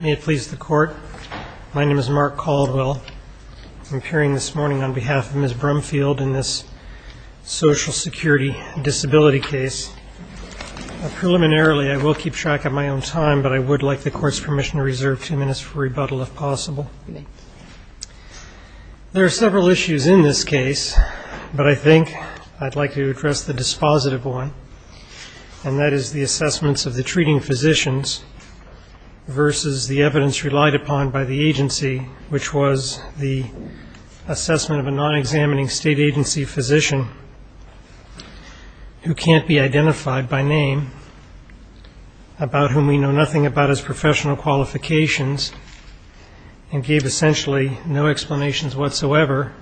May it please the Court. My name is Mark Caldwell. I'm appearing this morning on behalf of Ms. Brumfield in this social security disability case. Preliminarily, I will keep track of my own time, but I would like the Court's permission to reserve two minutes for rebuttal if possible. There are several issues in this case, but I think I'd like to address the dispositive one, and that is the assessments of the treating physicians versus the evidence relied upon by the agency, which was the assessment of a non-examining state agency physician who can't be identified by name, about whom we know nothing about his professional qualifications, and gave essentially no explanations whatsoever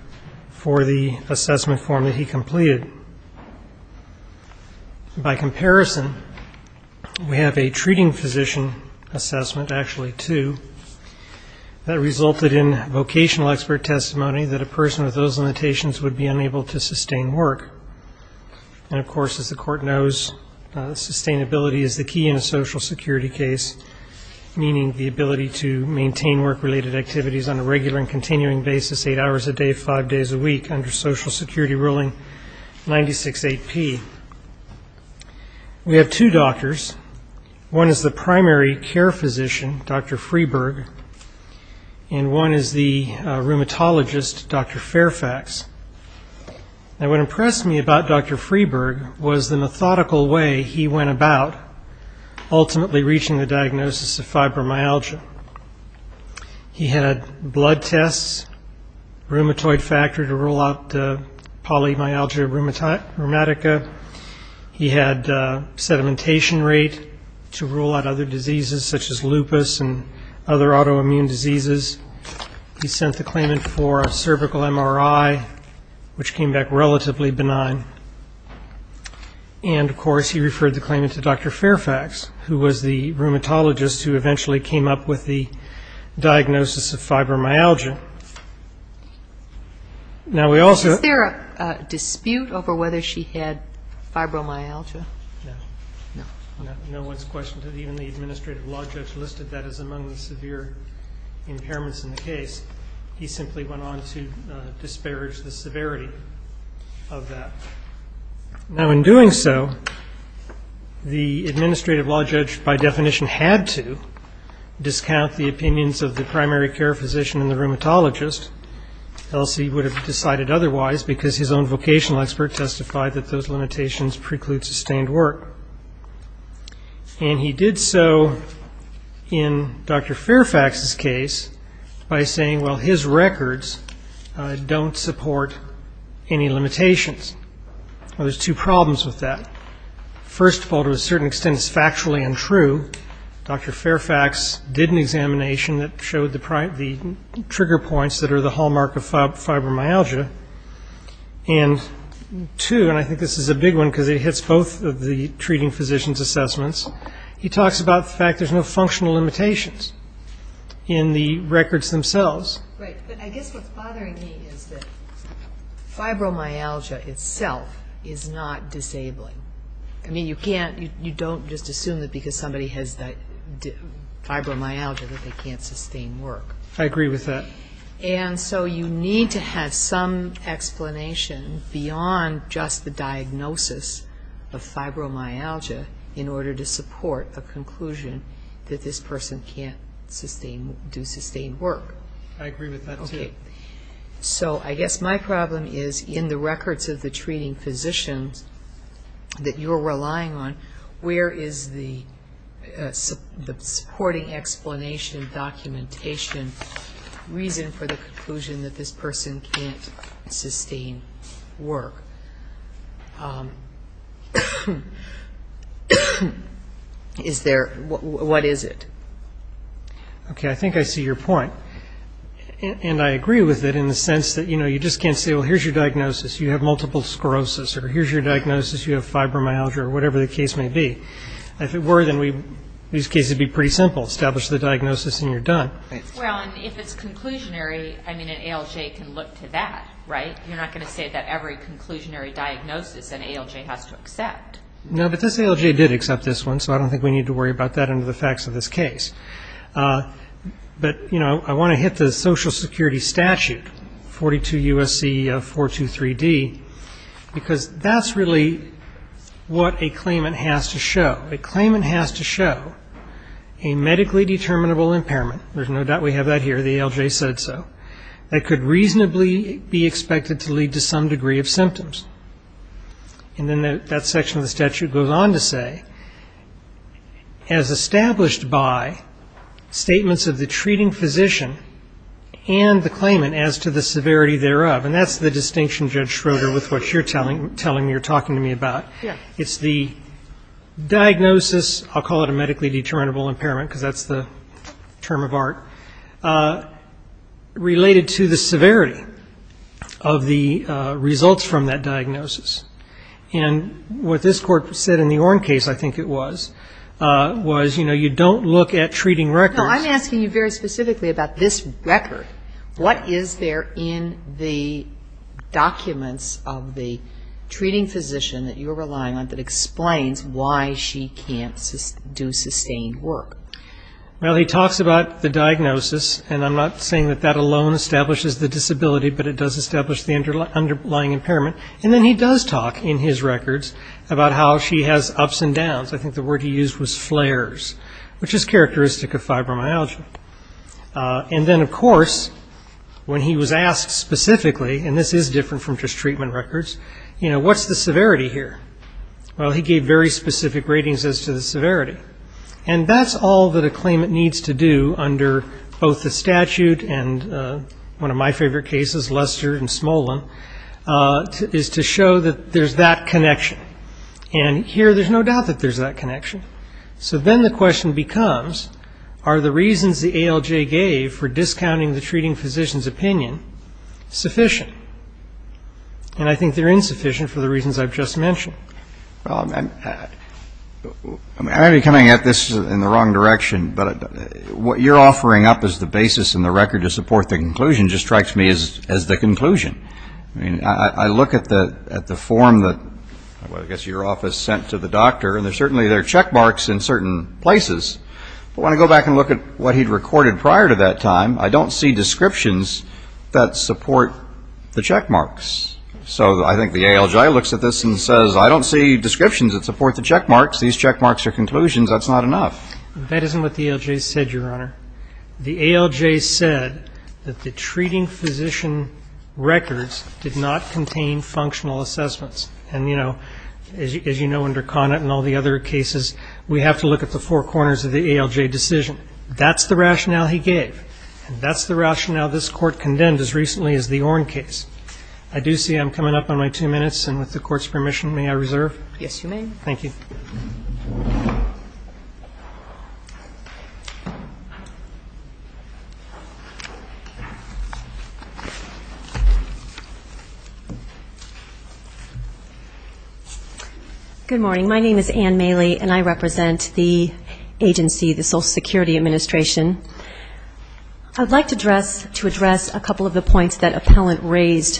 for the assessment form that he completed. By comparison, we have a treating physician assessment, actually two, that resulted in vocational expert testimony that a person with those limitations would be unable to sustain work. And, of course, as the Court knows, sustainability is the key in a social security case, meaning the ability to maintain work-related activities on a regular and continuing basis, eight hours a day, five days a week, under social security ruling 96-8P. We have two doctors. One is the primary care physician, Dr. Freeburg, and one is the rheumatologist, Dr. Fairfax. Now, what impressed me about Dr. Freeburg was the methodical way he went about ultimately reaching the diagnosis of fibromyalgia. He had blood tests, rheumatoid factor to rule out polymyalgia rheumatica. He had sedimentation rate to rule out other diseases, such as lupus and other autoimmune diseases. He sent the claimant for a cervical MRI, which came back relatively benign. And, of course, he referred the claimant to Dr. Fairfax, who was the rheumatologist who eventually came up with the diagnosis of fibromyalgia. Now, we also ‑‑ Is there a dispute over whether she had fibromyalgia? No. No. No one's questioned it. Even the administrative law judge listed that as among the severe impairments in the case. He simply went on to disparage the severity of that. Now, in doing so, the administrative law judge, by definition, had to discount the opinions of the primary care physician and the rheumatologist. Elsie would have decided otherwise, because his own vocational expert testified that those limitations preclude sustained work. And he did so in Dr. Fairfax's case by saying, well, his records don't support any limitations. Now, there's two problems with that. First of all, to a certain extent, it's factually untrue. Dr. Fairfax did an examination that showed the trigger points that are the hallmark of fibromyalgia. And two, and I think this is a big one because it hits both of the treating physicians' assessments, he talks about the fact there's no functional limitations in the records themselves. Right. But I guess what's bothering me is that fibromyalgia itself is not disabling. I mean, you don't just assume that because somebody has fibromyalgia that they can't sustain work. I agree with that. And so you need to have some explanation beyond just the diagnosis of fibromyalgia in order to support a conclusion that this person can't do sustained work. I agree with that, too. Okay. So I guess my problem is in the records of the treating physicians that you're relying on, where is the supporting explanation, documentation, reason for the conclusion that this person can't sustain work? Is there? What is it? Okay, I think I see your point. And I agree with it in the sense that, you know, you just can't say, well, here's your diagnosis, you have multiple sclerosis, or here's your diagnosis, you have fibromyalgia, or whatever the case may be. If it were, then these cases would be pretty simple. Establish the diagnosis and you're done. Well, and if it's conclusionary, I mean, an ALJ can look to that, right? You're not going to say that every conclusionary diagnosis an ALJ has to accept. No, but this ALJ did accept this one, so I don't think we need to worry about that under the facts of this case. But, you know, I want to hit the Social Security statute, 42 U.S.C. 423D, because that's really what a claimant has to show. A claimant has to show a medically determinable impairment, there's no doubt we have that here, the ALJ said so, that could reasonably be expected to lead to some degree of symptoms. And then that section of the statute goes on to say, as established by statements of the treating physician and the claimant as to the severity thereof. And that's the distinction, Judge Schroeder, with what you're telling me, you're talking to me about. It's the diagnosis, I'll call it a medically determinable impairment, because that's the term of art, related to the severity of the results from that diagnosis. And what this court said in the Orn case, I think it was, was, you know, you don't look at treating records. No, I'm asking you very specifically about this record. What is there in the documents of the treating physician that you're relying on that explains why she can't do sustained work? Well, he talks about the diagnosis, and I'm not saying that that alone establishes the disability, but it does establish the underlying impairment. And then he does talk in his records about how she has ups and downs. I think the word he used was flares, which is characteristic of fibromyalgia. And then, of course, when he was asked specifically, and this is different from just treatment records, you know, what's the severity here? Well, he gave very specific ratings as to the severity. And that's all that a claimant needs to do under both the statute and one of my favorite cases, Lester and Smolin, is to show that there's that connection. And here there's no doubt that there's that connection. So then the question becomes, are the reasons the ALJ gave for discounting the treating physician's opinion sufficient? And I think they're insufficient for the reasons I've just mentioned. Well, I'm already coming at this in the wrong direction, but what you're offering up as the basis in the record to support the conclusion just strikes me as the conclusion. I mean, I look at the form that, well, I guess your office sent to the doctor, and certainly there are checkmarks in certain places. But when I go back and look at what he'd recorded prior to that time, I don't see descriptions that support the checkmarks. So I think the ALJ looks at this and says, I don't see descriptions that support the checkmarks. These checkmarks are conclusions. That's not enough. That isn't what the ALJ said, Your Honor. The ALJ said that the treating physician records did not contain functional assessments. And, you know, as you know, under Conant and all the other cases, we have to look at the four corners of the ALJ decision. That's the rationale he gave. That's the rationale this Court condemned as recently as the Orn case. I do see I'm coming up on my two minutes. And with the Court's permission, may I reserve? Yes, you may. Thank you. Thank you. Good morning. My name is Anne Maley, and I represent the agency, the Social Security Administration. I'd like to address a couple of the points that Appellant raised.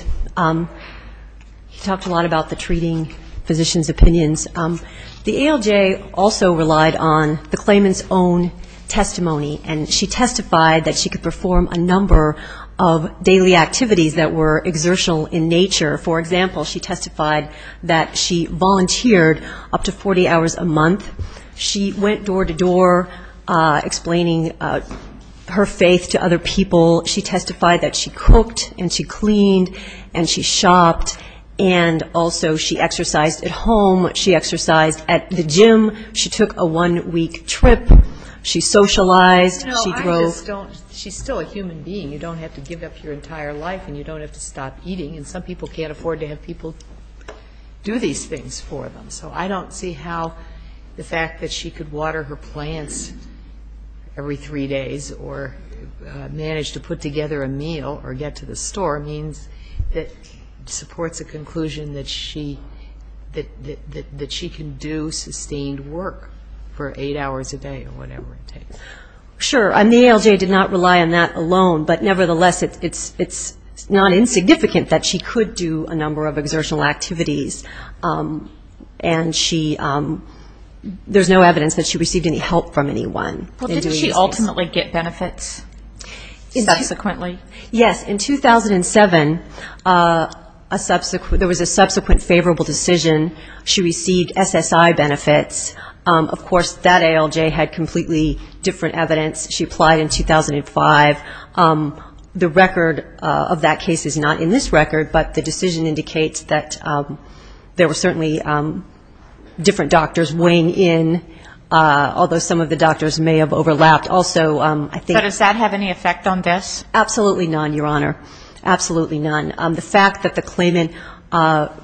He talked a lot about the treating physician's opinions. The ALJ also relied on the claimant's own testimony, and she testified that she could perform a number of daily activities that were exertional in nature. For example, she testified that she volunteered up to 40 hours a month. She went door to door explaining her faith to other people. She testified that she cooked and she cleaned and she shopped, and also she exercised at home. She exercised at the gym. She took a one-week trip. She socialized. She drove. No, I just don't. She's still a human being. You don't have to give up your entire life, and you don't have to stop eating. And some people can't afford to have people do these things for them. So I don't see how the fact that she could water her plants every three days or manage to put together a meal or get to the store means that supports a conclusion that she can do sustained work for eight hours a day or whatever it takes. Sure, and the ALJ did not rely on that alone, but nevertheless, it's not insignificant that she could do a number of exertional activities. And there's no evidence that she received any help from anyone. Well, did she ultimately get benefits subsequently? Yes. In 2007, there was a subsequent favorable decision. She received SSI benefits. Of course, that ALJ had completely different evidence. She applied in 2005. The record of that case is not in this record, but the decision indicates that there were certainly different doctors weighing in, although some of the doctors may have overlapped also. But does that have any effect on this? Absolutely none, Your Honor. Absolutely none. The fact that the claimant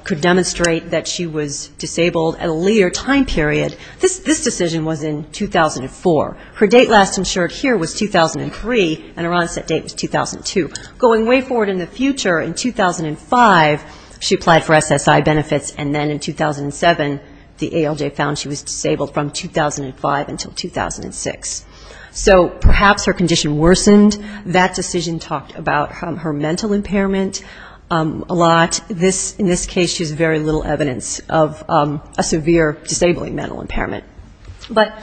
could demonstrate that she was disabled at a later time period, this decision was in 2004. Her date last insured here was 2003, and her onset date was 2002. Going way forward in the future, in 2005, she applied for SSI benefits, and then in 2007, the ALJ found she was disabled from 2005 until 2006. So perhaps her condition worsened. That decision talked about her mental impairment a lot. In this case, she has very little evidence of a severe disabling mental impairment. But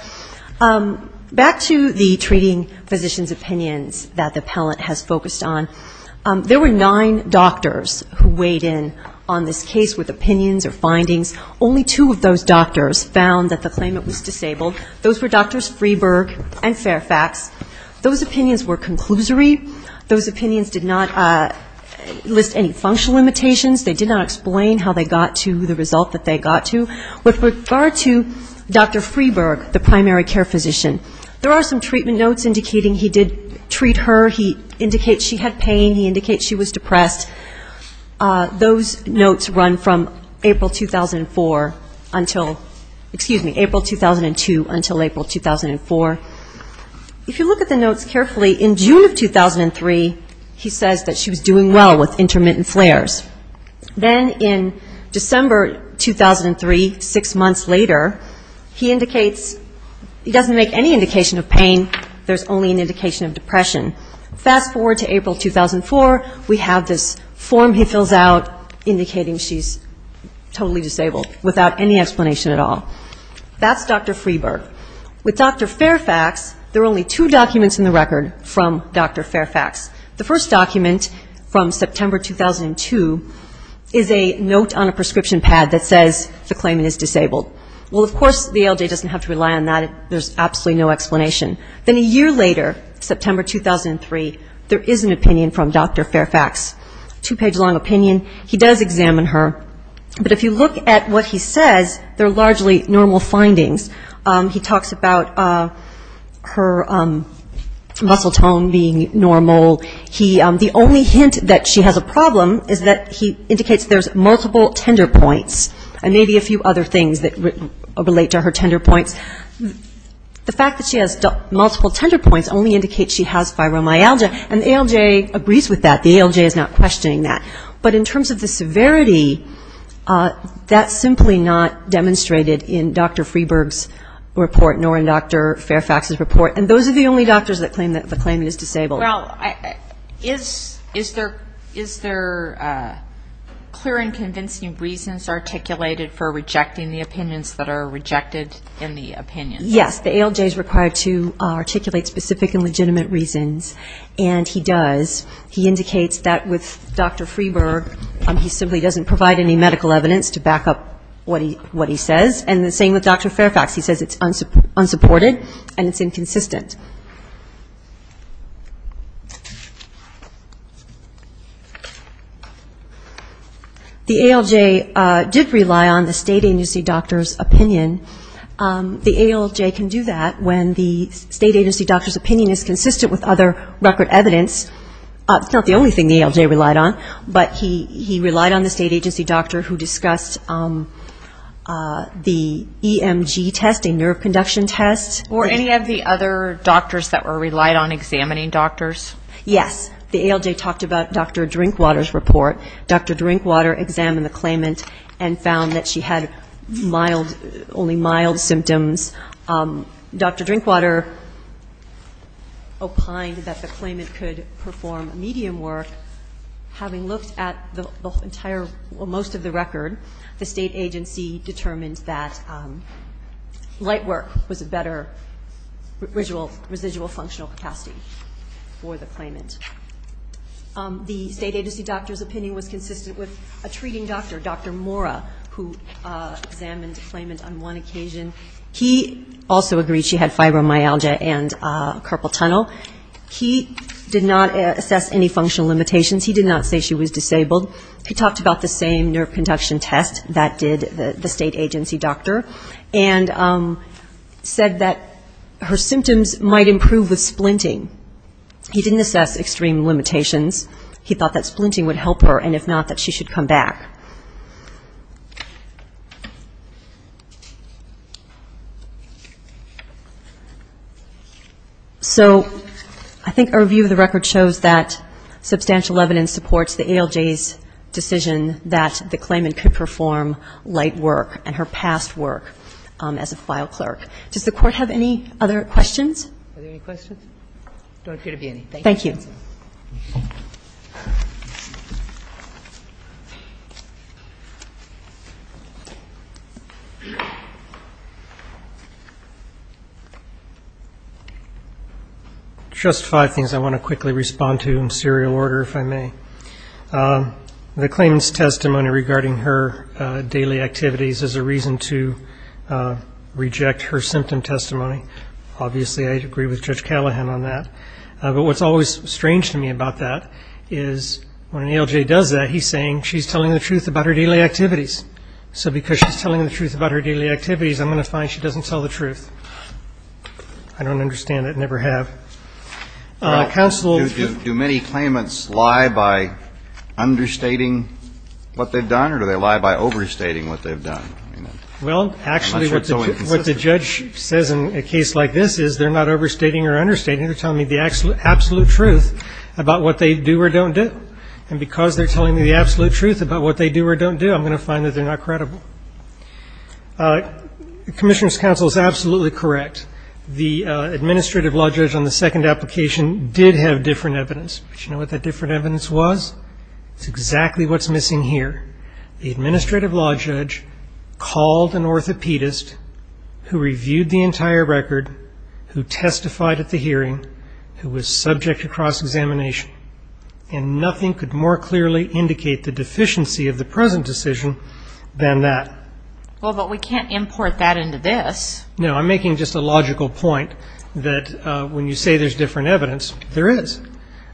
back to the treating physician's opinions that the appellant has focused on. There were nine doctors who weighed in on this case with opinions or findings. Only two of those doctors found that the claimant was disabled. Those were Drs. Freeburg and Fairfax. Those opinions were conclusory. Those opinions did not list any functional limitations. They did not explain how they got to the result that they got to. With regard to Dr. Freeburg, the primary care physician, there are some treatment notes indicating he did treat her. He indicates she had pain. He indicates she was depressed. Those notes run from April 2004 until ‑‑ excuse me, April 2002 until April 2004. If you look at the notes carefully, in June of 2003, he says that she was doing well with intermittent flares. Then in December 2003, six months later, he indicates he doesn't make any indication of pain. There's only an indication of depression. Fast forward to April 2004, we have this form he fills out indicating she's totally disabled without any explanation at all. That's Dr. Freeburg. With Dr. Fairfax, there are only two documents in the record from Dr. Fairfax. The first document from September 2002 is a note on a prescription pad that says the claimant is disabled. Well, of course, the ALJ doesn't have to rely on that. There's absolutely no explanation. Then a year later, September 2003, there is an opinion from Dr. Fairfax. Two‑page long opinion. He does examine her. But if you look at what he says, they're largely normal findings. He talks about her muscle tone being normal. The only hint that she has a problem is that he indicates there's multiple tender points and maybe a few other things that relate to her tender points. But in terms of the severity, that's simply not demonstrated in Dr. Freeburg's report nor in Dr. Fairfax's report. And those are the only doctors that claim that the claimant is disabled. Well, is there clear and convincing reasons articulated for rejecting the opinions that are rejected in the opinion? Yes. The ALJ is required to articulate specific and legitimate reasons, and he does. He indicates that with Dr. Freeburg, he simply doesn't provide any medical evidence to back up what he says. And the same with Dr. Fairfax. He says it's unsupported and it's inconsistent. The ALJ did rely on the state agency doctor's opinion. The ALJ can do that when the state agency doctor's opinion is consistent with other record evidence. It's not the only thing the ALJ relied on, but he relied on the state agency doctor who discussed the EMG test, a nerve conduction test. Or any of the other doctors that were relied on examining doctors. Yes. The ALJ talked about Dr. Drinkwater's report. Dr. Drinkwater examined the claimant and found that she had only mild symptoms. Dr. Drinkwater opined that the claimant could perform medium work. Having looked at most of the record, the state agency determined that light work was a better residual functional capacity for the claimant. The state agency doctor's opinion was consistent with a treating doctor, Dr. Mora, who examined the claimant on one occasion. He also agreed she had fibromyalgia and carpal tunnel. He did not assess any functional limitations. He did not say she was disabled. He talked about the same nerve conduction test that did the state agency doctor and said that her symptoms might improve with splinting. He didn't assess extreme limitations. He thought that splinting would help her, and if not, that she should come back. So I think a review of the record shows that substantial evidence supports the ALJ's decision that the claimant could perform light work and her past work as a file clerk. Does the Court have any other questions? Are there any questions? Just five things I want to quickly respond to in serial order, if I may. The claimant's testimony regarding her daily activities is a reason to reject her statement. Obviously, I agree with Judge Callahan on that. But what's always strange to me about that is when an ALJ does that, he's saying she's telling the truth about her daily activities. So because she's telling the truth about her daily activities, I'm going to find she doesn't tell the truth. I don't understand that, never have. Do many claimants lie by understating what they've done, or do they lie by overstating what they've done? Well, actually, what the judge says in a case like this is they're not overstating or understating. They're telling me the absolute truth about what they do or don't do. And because they're telling me the absolute truth about what they do or don't do, I'm going to find that they're not credible. Commissioner's counsel is absolutely correct. The administrative law judge on the second application did have different evidence. But you know what that different evidence was? It's exactly what's missing here. The administrative law judge called an orthopedist who reviewed the entire record, who testified at the hearing, who was subject to cross-examination. And nothing could more clearly indicate the deficiency of the present decision than that. Well, but we can't import that into this. No, I'm making just a logical point that when you say there's different evidence, there is.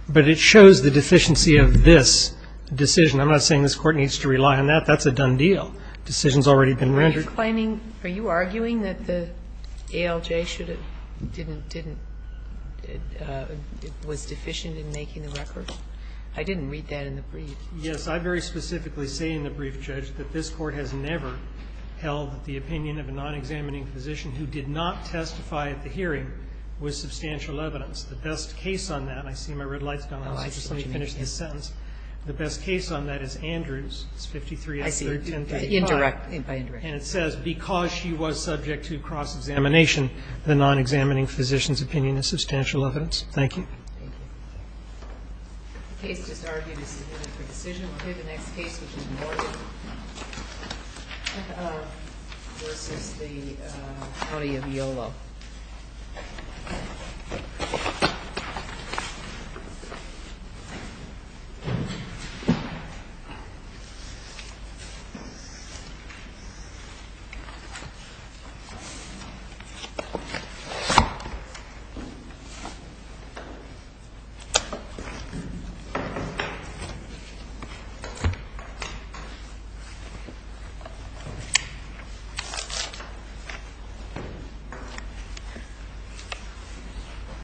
But it shows the deficiency of this decision. I'm not saying this Court needs to rely on that. That's a done deal. Decision's already been rendered. Are you claiming, are you arguing that the ALJ should have, didn't, didn't, was deficient in making the record? I didn't read that in the brief. Yes, I very specifically say in the brief, Judge, that this Court has never held that the opinion of a non-examining physician who did not testify at the hearing was substantial evidence. The best case on that, and I see my red light's gone off, so just let me finish this sentence. The best case on that is Andrews. It's 53-1335. Indirect. Indirect. And it says, because she was subject to cross-examination, the non-examining physician's opinion is substantial evidence. Thank you. Thank you. The case is argued as a decision. We'll hear the next case, which is Morgan v. the County of Yolo. Thank you, Your Honor. Thank you.